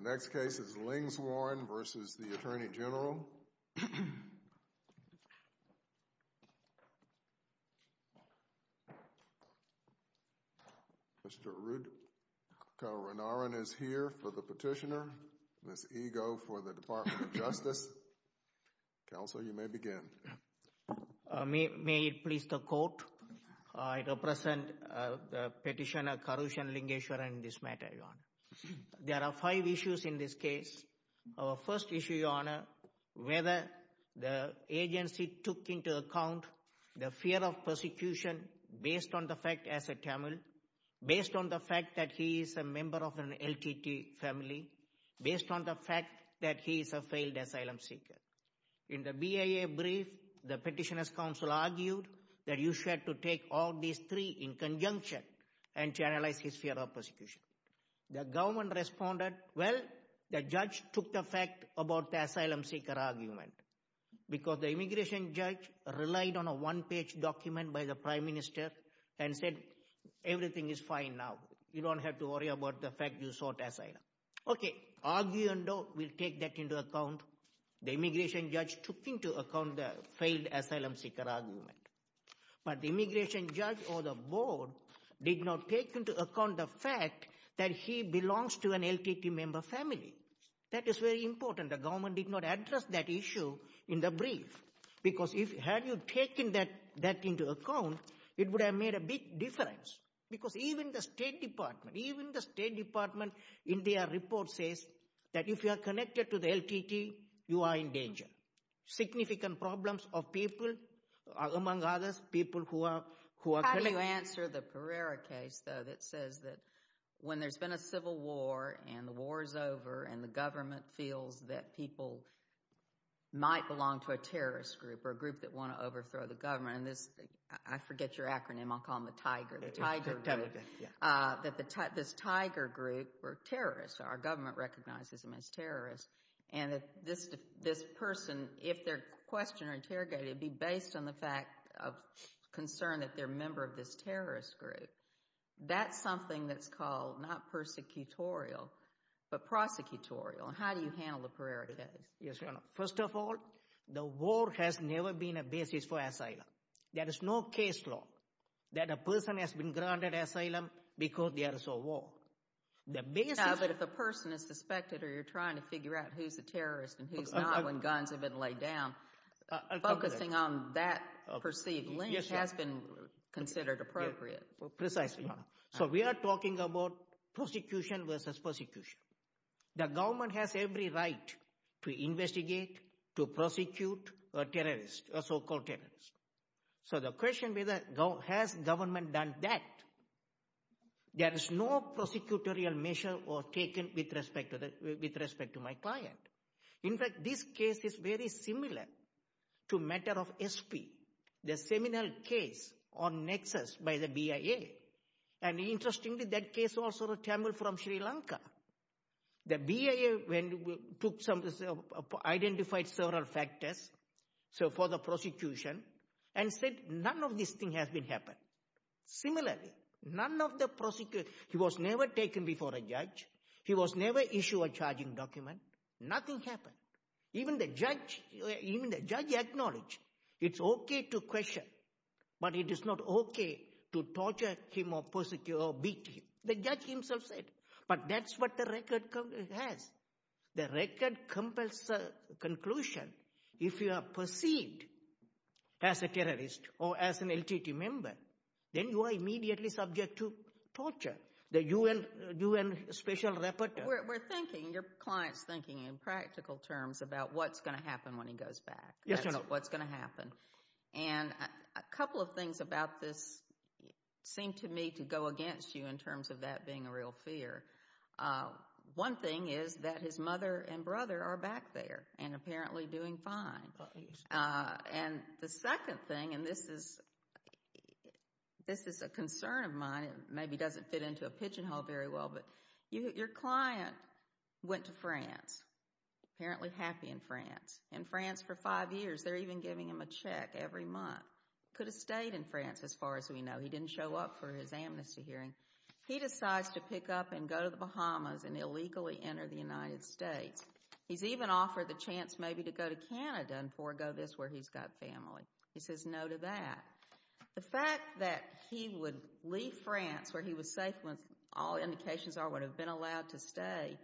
The next case is Lingeswaran v. U.S. Attorney General. Mr. Arudh Kauranarayan is here for the petitioner, Ms. Ego for the Department of Justice. Counsel, you may begin. May it please the Court, I represent the petitioner Karooshan Lingeswaran in this matter, Your Honor. There are five issues in this case. Our first issue, Your Honor, whether the agency took into account the fear of persecution based on the fact as a Tamil, based on the fact that he is a member of an LTT family, based on the fact that he is a failed asylum seeker. In the BIA brief, the petitioner's counsel argued that you should take all these three in conjunction and to analyze his fear of persecution. The government responded, well, the judge took the fact about the asylum seeker argument because the immigration judge relied on a one-page document by the Prime Minister and said everything is fine now. You don't have to worry about the fact you sought asylum. Okay, argue and doubt, we'll take that into account. The immigration judge took into account the failed asylum seeker argument. But the immigration judge or the board did not take into account the fact that he belongs to an LTT member family. That is very important. The government did not address that issue in the brief. Because had you taken that into account, it would have made a big difference. Because even the State Department, even the State Department in their report says that significant problems of people, among others, people who are... How do you answer the Pereira case, though, that says that when there's been a civil war and the war is over and the government feels that people might belong to a terrorist group or a group that want to overthrow the government, and this, I forget your acronym, I'll call them the Tiger, the Tiger group, that this Tiger group were terrorists, our government recognizes them as terrorists, and that this person, if they're questioned or interrogated, be based on the fact of concern that they're a member of this terrorist group. That's something that's called not persecutorial, but prosecutorial. How do you handle the Pereira case? Yes, Your Honor. First of all, the war has never been a basis for asylum. There is no case law that a person has been granted asylum because they are so war. No, but if a person is suspected or you're trying to figure out who's a terrorist and who's not when guns have been laid down, focusing on that perceived link has been considered Precisely, Your Honor. So we are talking about prosecution versus persecution. The government has every right to investigate, to prosecute a terrorist, a so-called terrorist. So the question is, has the government done that? There is no prosecutorial measure or taken with respect to my client. In fact, this case is very similar to matter of SP, the seminal case on Nexus by the BIA. And interestingly, that case was a Tamil from Sri Lanka. The BIA identified several factors for the prosecution and said none of this thing has been happened. Similarly, none of the prosecution, he was never taken before a judge. He was never issued a charging document. Nothing happened. Even the judge acknowledged it's okay to question, but it is not okay to torture him or persecute or beat him. The judge himself said, but that's what the record has. The record comes as a conclusion. If you are perceived as a terrorist or as an LTT member, then you are immediately subject to torture. The UN special rapporteur. We're thinking, your client's thinking in practical terms about what's going to happen when he goes back. Yes, Your Honor. What's going to happen. And a couple of things about this seem to me to go against you in terms of that being a real fear. One thing is that his mother and brother are back there and apparently doing fine. And the second thing, and this is a concern of mine, maybe doesn't fit into a pigeon hole very well, but your client went to France, apparently happy in France. In France for five years, they're even giving him a check every month. Could have stayed in France as far as we know. He didn't show up for his amnesty hearing. He decides to pick up and go to the Bahamas and illegally enter the United States. He's even offered the chance maybe to go to Canada and forgo this where he's got family. He says no to that. The fact that he would leave France where he was safe, all indications are would have been allowed to stay,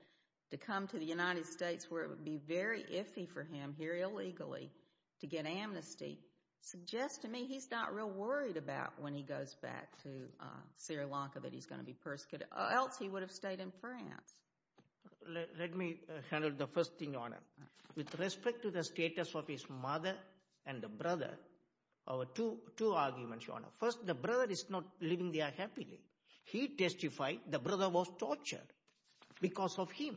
to come to the United States where it would be very iffy for him here illegally to get amnesty, suggests to me he's not real worried about when he goes back to Sri Lanka that he's going to be persecuted, or else he would have stayed in France. Let me handle the first thing, Your Honor. With respect to the status of his mother and the brother, our two arguments, Your Honor. First, the brother is not living there happily. He testified the brother was tortured because of him.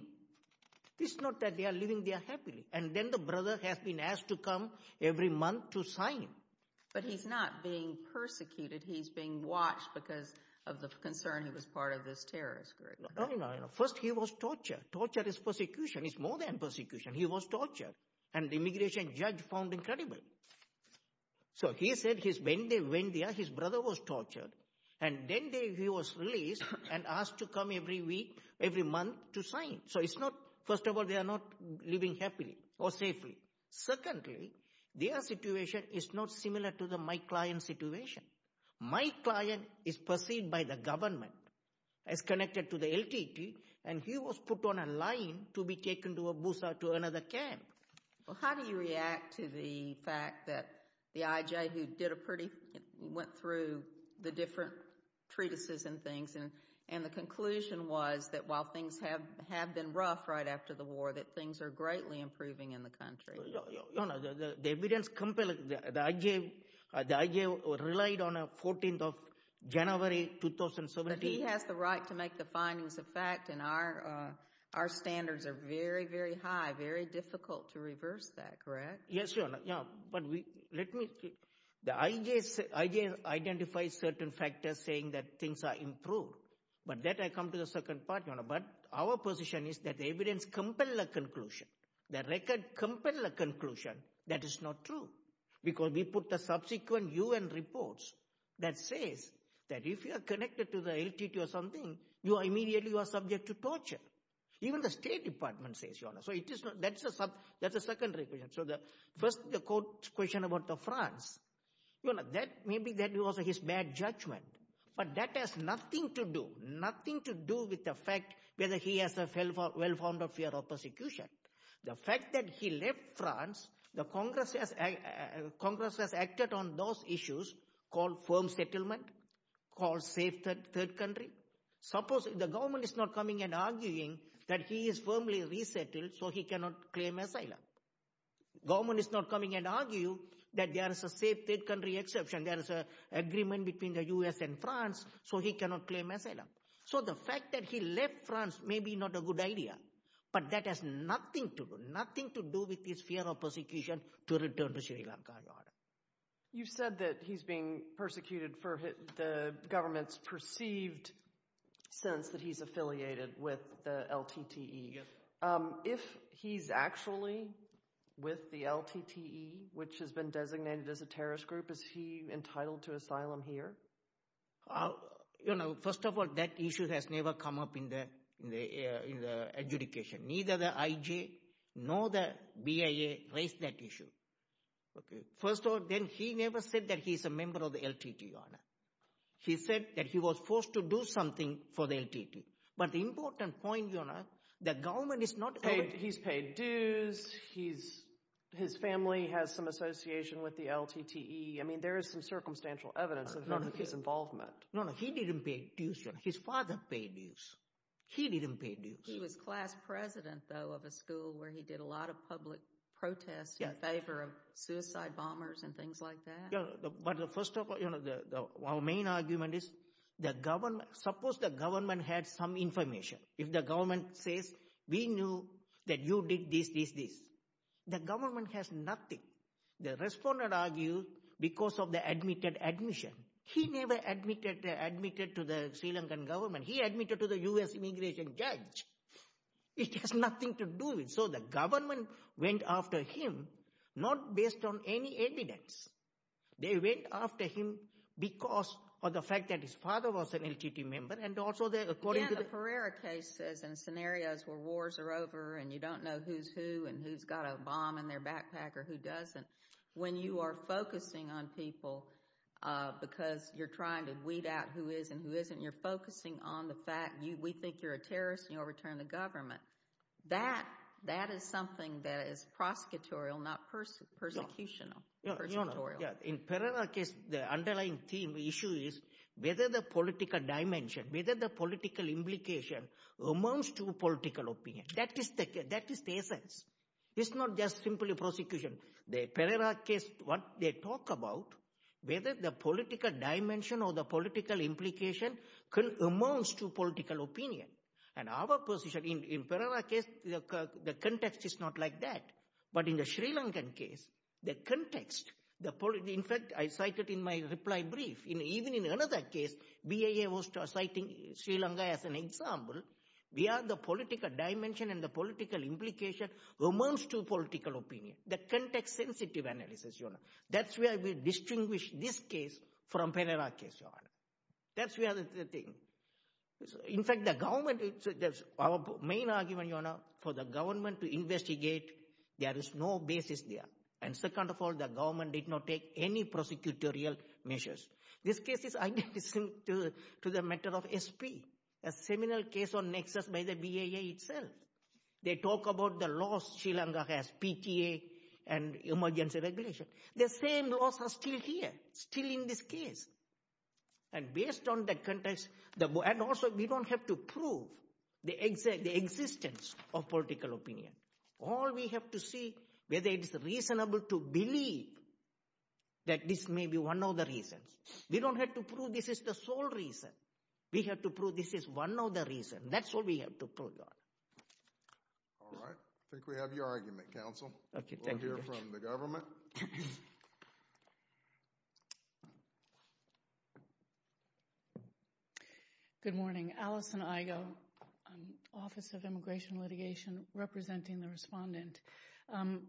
It's not that they are living there happily. And then the brother has been asked to come every month to sign. But he's not being persecuted. He's being watched because of the concern he was part of this terrorist group. No, no, no. First, he was tortured. Torture is persecution. It's more than persecution. He was tortured. And the immigration judge found incredible. So he said when they went there, his brother was tortured. And then he was released and asked to come every week, every month to sign. So it's not, first of all, they are not living happily or safely. Secondly, their situation is not similar to my client's situation. My client is perceived by the government as connected to the LTT and he was put on a line to be taken to another camp. Well, how do you react to the fact that the IJ who did a pretty, went through the different treatises and things and the conclusion was that while things have been rough right after the war, that things are greatly improving in the country? Your Honor, the evidence compelling, the IJ relied on a 14th of January 2017. But he has the right to make the findings of fact and our standards are very, very high, very difficult to reverse that, correct? Yes, Your Honor. But let me, the IJ identifies certain factors saying that things are improved. But that I come to the second part, Your Honor. But our position is that the evidence compels a conclusion. The record compels a conclusion. That is not true. Because we put the subsequent UN reports that says that if you are connected to the LTT or something, you are immediately, you are subject to torture. Even the State Department says, Your Honor. So that's a secondary question. So first the court's question about France, Your Honor, maybe that was his bad judgment. But that has nothing to do, nothing to do with the fact whether he has a well-founded fear of persecution. The fact that he left France, the Congress has acted on those issues called firm settlement, called safe third country. Suppose the government is not coming and arguing that he is firmly resettled so he cannot claim asylum. Government is not coming and arguing that there is a safe third country exception, there is an agreement between the U.S. and France so he cannot claim asylum. So the fact that he left France may be not a good idea. But that has nothing to do, nothing to do with his fear of persecution to return to Sri Lanka, Your Honor. You said that he's being persecuted for the government's perceived sense that he's affiliated with the LTT. If he's actually with the LTT, which has been designated as a terrorist group, is he entitled to asylum here? First of all, that issue has never come up in the adjudication. Neither the IJ nor the BIA raised that issue. First of all, he never said that he's a member of the LTT, Your Honor. He said that he was forced to do something for the LTT. But the important point, Your Honor, the government is not... He's paid dues, his family has some association with the LTT. I mean, there is some circumstantial evidence of his involvement. No, no, he didn't pay dues, Your Honor. His father paid dues. He didn't pay dues. He was class president, though, of a school where he did a lot of public protests in favor of suicide bombers and things like that. But first of all, our main argument is suppose the government had some information. If the government says, we knew that you did this, this, this. The government has nothing. The respondent argued because of the admitted admission. He never admitted to the Sri Lankan government. He admitted to the U.S. immigration judge. It has nothing to do with... So the government went after him not based on any evidence. They went after him because of the fact that his father was an LTT member and also according to the... Yeah, the Pereira cases and scenarios where wars are over and you don't know who's who and who's got a bomb in their backpack or who doesn't. When you are focusing on people because you're trying to weed out who is and who isn't, you're focusing on the fact we think you're a terrorist and you'll return to government. That is something that is prosecutorial, not persecutorial. In Pereira case, the underlying theme, issue is whether the political dimension, whether the political implication amounts to political opinion. That is the essence. It's not just simply prosecution. The Pereira case, what they talk about, whether the political dimension or the political implication amounts to political opinion. And our position in Pereira case, the context is not like that. But in the Sri Lankan case, the context, in fact I cited in my reply brief, even in another case, BIA was citing Sri Lanka as an example. BIA, the political dimension and the political implication amounts to political opinion. The context-sensitive analysis. That's where we distinguish this case from Pereira case. In fact, the government, our main argument for the government to investigate, there is no basis there. And second of all, the government did not take any prosecutorial measures. This case is identical to the matter of SP. A similar case on Nexus by the BIA itself. They talk about the laws Sri Lanka has, PTA and emergency regulation. The same laws are still here, still in this case. And based on that context, and also we don't have to prove the existence of political opinion. All we have to see, whether it's reasonable to believe that this may be one of the reasons. We don't have to prove this is the sole reason. We have to prove this is one of the reasons. That's what we have to prove. All right. I think we have your argument, counsel. We'll hear from the government. Good morning. Alison Igoe, Office of Immigration Litigation, representing the respondent.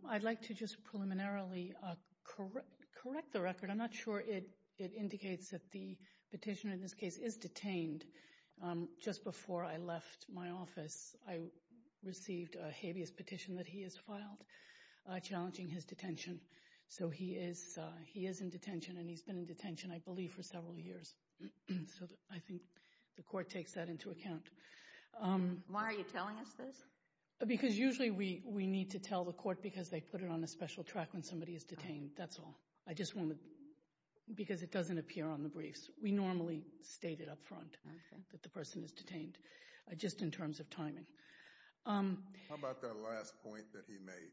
I'd like to just preliminarily correct the record. I'm not sure it indicates that the petitioner in this case is detained. Just before I left my office, I received a habeas petition that he has filed, challenging his detention. So he is in detention, and he's been in detention I believe for several years. So I think the court takes that into account. Why are you telling us this? Because usually we need to tell the court because they put it on a special track when somebody is detained. That's all. I just want to because it doesn't appear on the briefs. We normally state it up front that the person is detained. Just in terms of timing. How about that last point that he made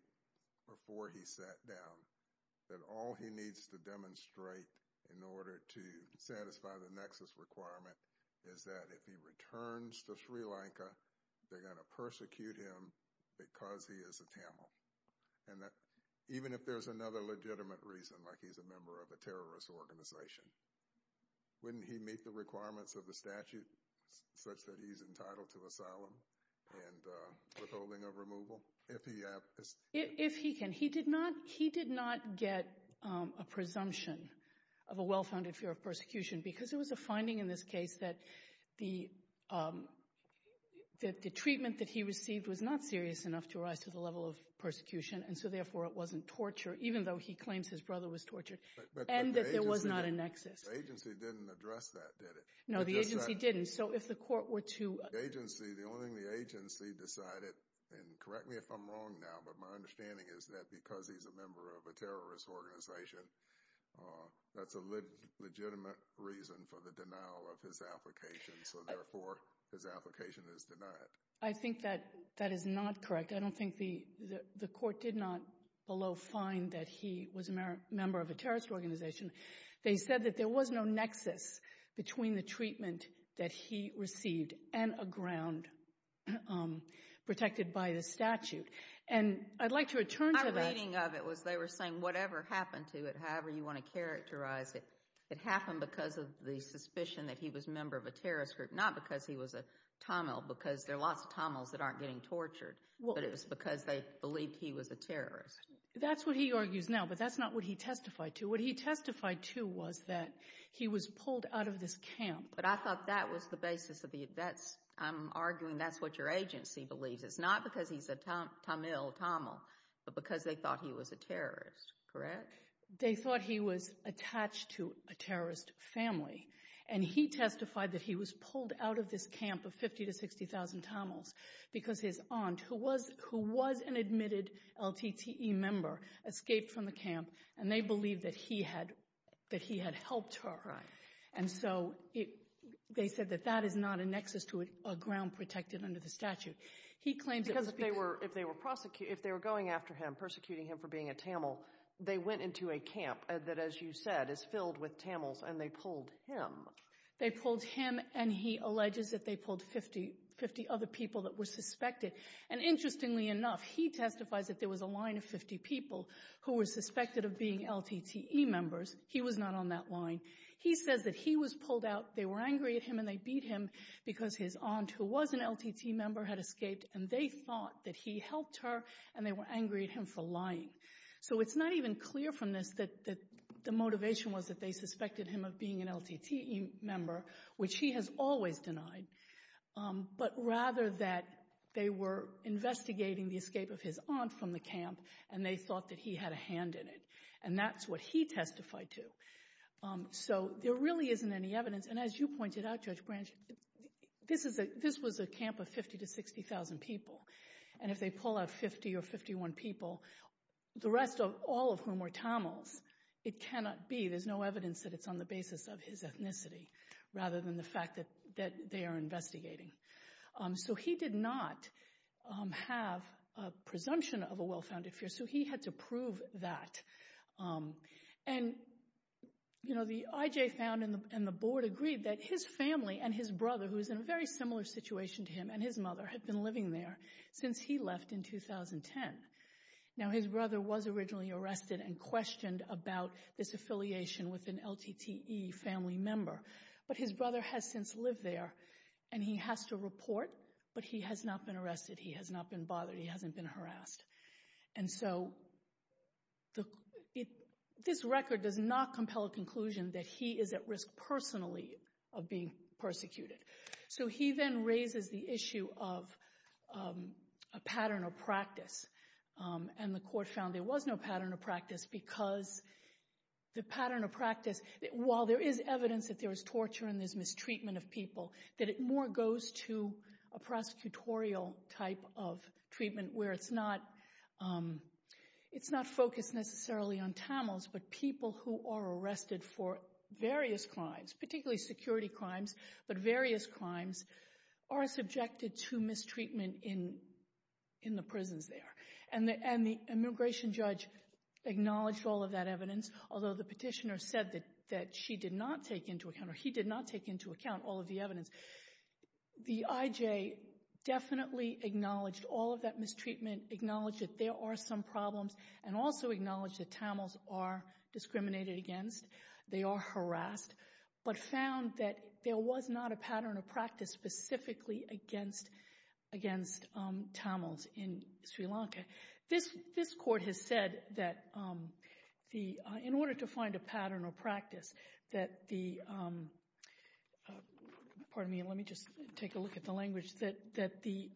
before he sat down? That all he needs to demonstrate in order to satisfy the nexus requirement is that if he returns to Sri Lanka, they're going to persecute him because he is a Tamil. Even if there's another legitimate reason, like he's a member of a terrorist organization, wouldn't he meet the requirements of the statute such that he's entitled to asylum and withholding of removal? If he can. He did not get a presumption of a well-founded fear of persecution because there was a finding in this case that the treatment that he received was not serious enough to rise to the level of persecution and so therefore it wasn't torture, even though he claims his brother was tortured, and that there was not a nexus. The agency didn't address that, did it? No, the agency didn't. So if the court were to... The only thing the agency decided, and correct me if I'm wrong now, but my understanding is that because he's a member of a terrorist organization, that's a legitimate reason for the denial of his application, so therefore his application is denied. I think that that is not correct. I don't think the court did not below find that he was a member of a terrorist organization. They said that there was no nexus between the treatment that he received and a ground protected by the statute, and I'd like to return to that... My reading of it was they were saying whatever happened to it, however you want to characterize it, it happened because of the suspicion that he was a member of a terrorist group, not because he was a Tamil, because there are lots of Tamils that aren't getting tortured, but it was because they believed he was a terrorist. That's what he argues now, but that's not what he testified to. What he testified to was that he was pulled out of this camp. But I thought that was the basis of the... I'm arguing that's what your agency believes. It's not because he's a Tamil, but because they thought he was a terrorist, correct? They thought he was attached to a terrorist family, and he testified that he was pulled out of this camp of 50,000 to 60,000 Tamils because his aunt, who was an admitted LTTE member, escaped from the camp, and they believed that he had helped her. And so they said that that is not a nexus to a ground protected under the statute. He claims... Because if they were going after him, persecuting him for being a Tamil, they went into a group of Tamils, and they pulled him. They pulled him, and he alleges that they pulled 50 other people that were suspected. And interestingly enough, he testifies that there was a line of 50 people who were suspected of being LTTE members. He was not on that line. He says that he was pulled out. They were angry at him, and they beat him because his aunt, who was an LTTE member, had escaped, and they thought that he helped her, and they were angry at him for lying. So it's not even clear from this that the motivation was that they suspected him of being an LTTE member, which he has always denied, but rather that they were investigating the escape of his aunt from the camp, and they thought that he had a hand in it. And that's what he testified to. So there really isn't any evidence, and as you pointed out, Judge Branch, this was a camp of 50 to 60,000 people, and if they pull out 50 or 51 people, the rest, all of whom were Tamils, it cannot be. There's no evidence that it's on the basis of his ethnicity, rather than the fact that they are investigating. So he did not have a presumption of a well-founded fear, so he had to prove that. And, you know, the IJ found and the board agreed that his family and his brother, who was in a very similar situation to him, and his mother had been living there since he left in 2010. Now his brother was originally arrested and questioned about this affiliation with an LTTE family member, but his brother has since lived there, and he has to report, but he has not been arrested, he has not been bothered, he hasn't been harassed. And so this record does not compel a conclusion that he is at risk personally of being persecuted. So he then raises the issue of a pattern of practice, and the court found there was no pattern of practice because the pattern of practice, while there is evidence that there was torture and there's mistreatment of people, that it more goes to a prosecutorial type of treatment where it's not focused necessarily on Tamils, but people who are arrested for various crimes, particularly security crimes, but various crimes are subjected to mistreatment in the prisons there. And the immigration judge acknowledged all of that evidence, although the petitioner said that she did not take into account, or he did not take into account, all of the evidence. The IJ definitely acknowledged all of that mistreatment, acknowledged that there are some problems, and also acknowledged that Tamils are discriminated against, they are harassed, but found that there was not a pattern of practice specifically against Tamils in Sri Lanka. This court has said that in order to find a pattern of practice, that the pardon me, let me just take a look at the language that the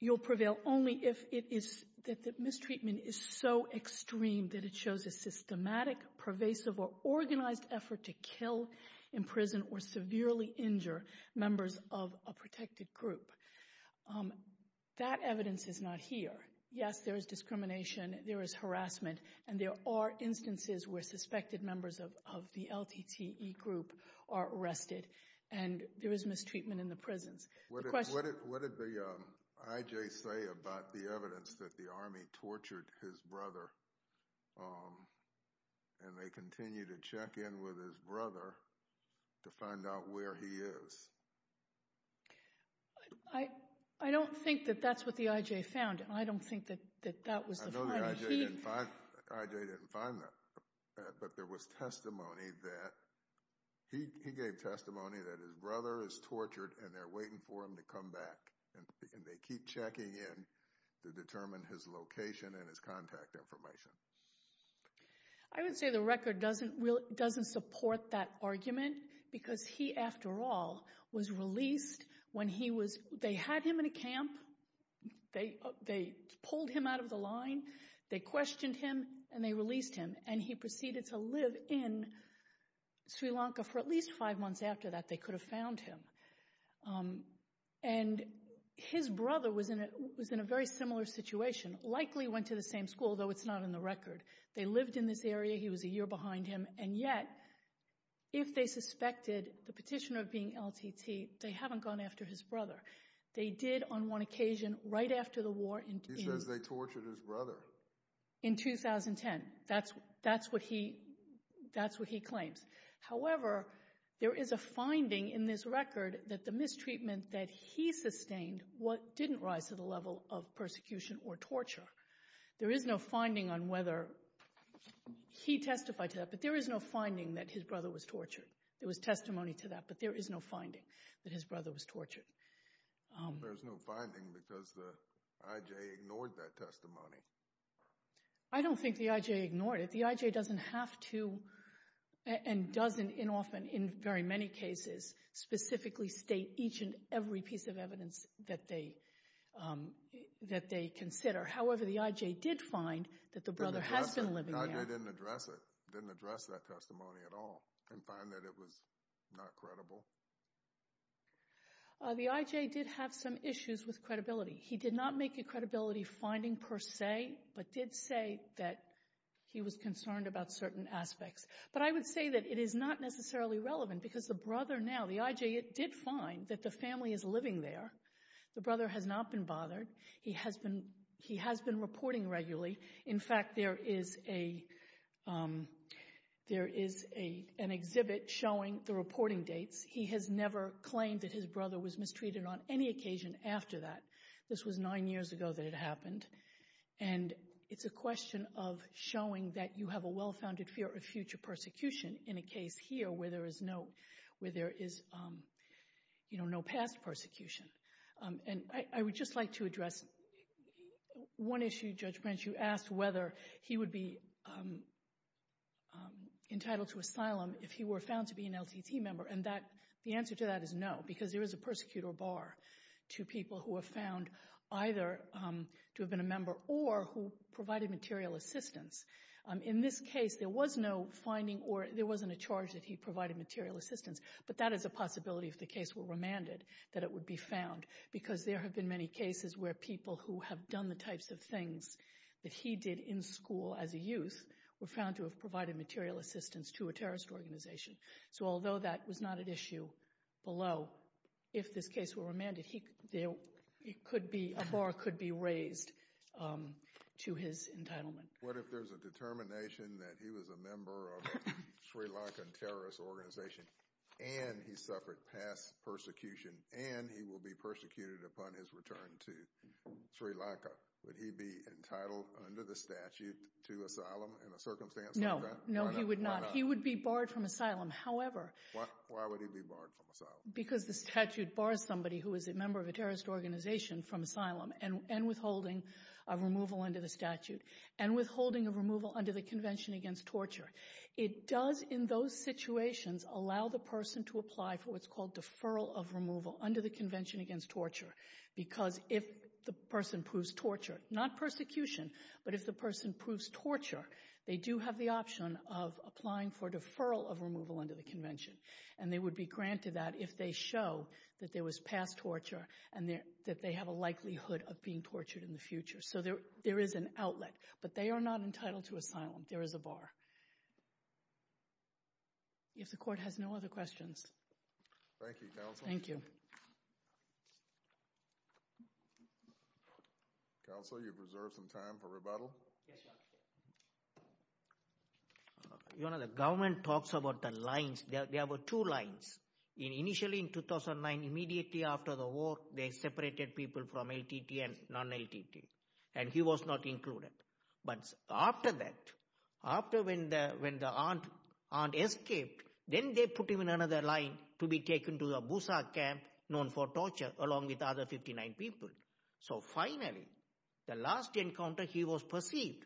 you'll prevail only if it is, that the mistreatment is so extreme that it shows a systematic, pervasive, or organized effort to kill in prison or severely injure members of a protected group. That evidence is not here. Yes, there is discrimination, there is harassment, and there are instances where suspected members of the LTTE group are arrested, and there is mistreatment in the prisons. What did the IJ say about the evidence that the army tortured his brother, and they continue to check in with his brother to find out where he is? I don't think that that's what the IJ found, and I don't think that that was the finding. I know the IJ didn't find that, but there was testimony that, he gave testimony that his brother is tortured and they're waiting for him to come back, and they keep checking in to determine his location and his contact information. I would say the record doesn't support that argument, because he, after all, was released when they had him in a camp, they pulled him out of the line, they questioned him, and they released him, and he proceeded to live in Sri Lanka for at least five months after that, they could have found him. And his brother was in a very similar situation, likely went to the same school, though it's not in the record. They lived in this area, he was a year behind him, and yet, if they suspected the petitioner of being LTT, they haven't gone after his brother. They did on one occasion, right after the war. He says they tortured his brother. In 2010. That's what he claims. However, there is a finding in this record that the mistreatment that he did was not of persecution or torture. There is no finding on whether he testified to that, but there is no finding that his brother was tortured. There was testimony to that, but there is no finding that his brother was tortured. There's no finding because the IJ ignored that testimony. I don't think the IJ ignored it. The IJ doesn't have to, and doesn't often, in very many cases, specifically state each and every piece of evidence that they consider. However, the IJ did find that the brother has been living there. The IJ didn't address it. Didn't address that testimony at all, and find that it was not credible. The IJ did have some issues with credibility. He did not make a credibility finding per se, but did say that he was concerned about certain aspects. But I would say that it is not necessarily relevant because the brother now, the IJ, it did find that the family is living there. The brother has not been bothered. He has been reporting regularly. In fact, there is an exhibit showing the reporting dates. He has never claimed that his brother was mistreated on any occasion after that. This was nine years ago that it happened. And it's a question of showing that you have a well-founded fear of future persecution in a case here where there is no past persecution. And I would just like to address one issue, Judge Branch, you asked whether he would be entitled to asylum if he were found to be an LTT member, and the answer to that is no, because there is a persecutor bar to people who are found either to have been a member or who provided material assistance. In this case there was no finding or there wasn't a charge that he provided material assistance, but that is a possibility if the case were remanded that it would be found, because there have been many cases where people who have done the types of things that he did in school as a youth were found to have provided material assistance to a terrorist organization. So although that was not an issue below, if this case were remanded, a bar could be raised to his entitlement. What if there's a determination that he was a member of the Sri Lankan terrorist organization and he suffered past persecution and he will be persecuted upon his return to Sri Lanka? Would he be entitled under the statute to asylum in a circumstance like that? No, no he would not. He would be barred from asylum, however Why would he be barred from asylum? Because the statute bars somebody who is a member of a terrorist organization from asylum and withholding a removal under the statute, and withholding a removal under the Convention Against Torture. It does in those situations allow the person to apply for what's called deferral of removal under the Convention Against Torture because if the person proves torture, not persecution, but if the person proves torture, they do have the option of applying for deferral of removal under the Convention and they would be granted that if they show that there was past torture and that they have a likelihood of being tortured in the future. So there is an outlet, but they are not If the court has no other questions. Thank you, Counsel. Thank you. Counsel, you've reserved some time for rebuttal. Yes, Your Honor. Your Honor, the government talks about the lines. There were two lines. Initially in 2009, immediately after the war, they separated people from LTT and non-LTT and he was not included. But after that, after when the aunt escaped, then they put him in another line to be taken to a busa camp known for torture along with the other 59 people. So finally, the last encounter, he was perceived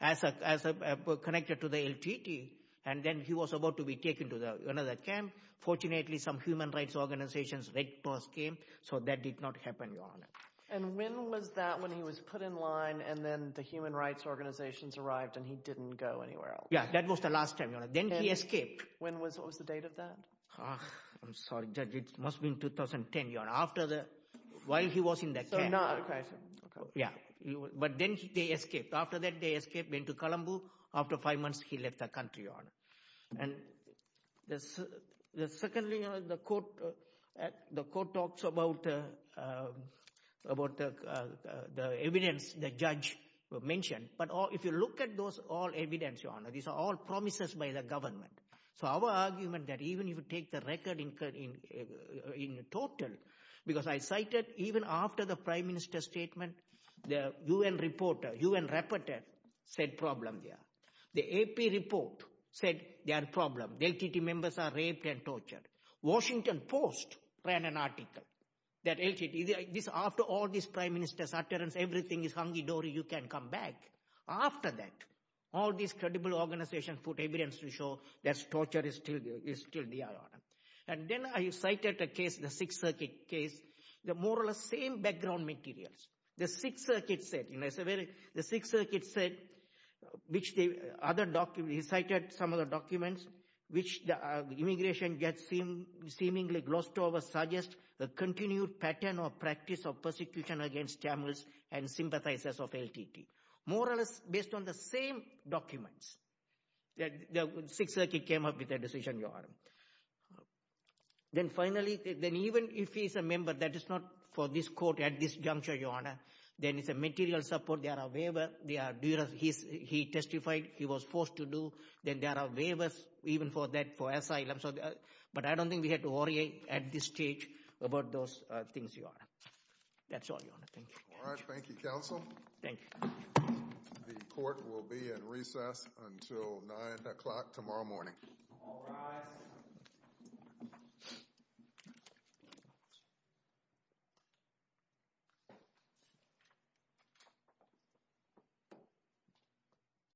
as connected to the LTT and then he was about to be taken to another camp. Fortunately, some human rights organizations came, so that did not happen, Your Honor. And when was that when he was put in line and then the human rights organizations arrived and he didn't go anywhere else. Yeah, that was the last time, Your Honor. Then he escaped. When was the date of that? It must have been 2010, Your Honor. While he was in that camp. But then they escaped. After that, they escaped, went to Colombo. After five months, he left the country, Your Honor. Secondly, Your Honor, the court talks about the evidence the judge mentioned, but if you look at those all evidence, Your Honor, these are all promises by the government. So our argument that even if you take the record in total, because I cited even after the Prime Minister's statement, the UN reporter, UN rapporteur said problem there. The AP report said there are problems. LTT members are raped and tortured. Washington Post ran an article that LTT after all these Prime Minister's utterances, everything is hunky-dory, you can come back. After that, all these credible organizations put evidence to show that torture is still there, Your Honor. And then I cited a case, the Sixth Circuit case, the more or less same background materials. The Sixth Circuit said which the other documents, he cited some of the documents which the immigration judge seemingly glossed over suggest the continued pattern or practice of persecution against Tamils and sympathizers of LTT. More or less based on the same documents. The Sixth Circuit came up with a decision, Your Honor. Then finally, then even if he's a member, that is not for this court at this juncture, Your Honor. Then it's a material support, there are waiver, he testified, he was forced to do, then there are waivers even for that, for asylum. But I don't think we have to worry at this stage about those things, Your Honor. That's all, Your Honor. Thank you. The court will be in recess until 9 o'clock tomorrow morning. All rise.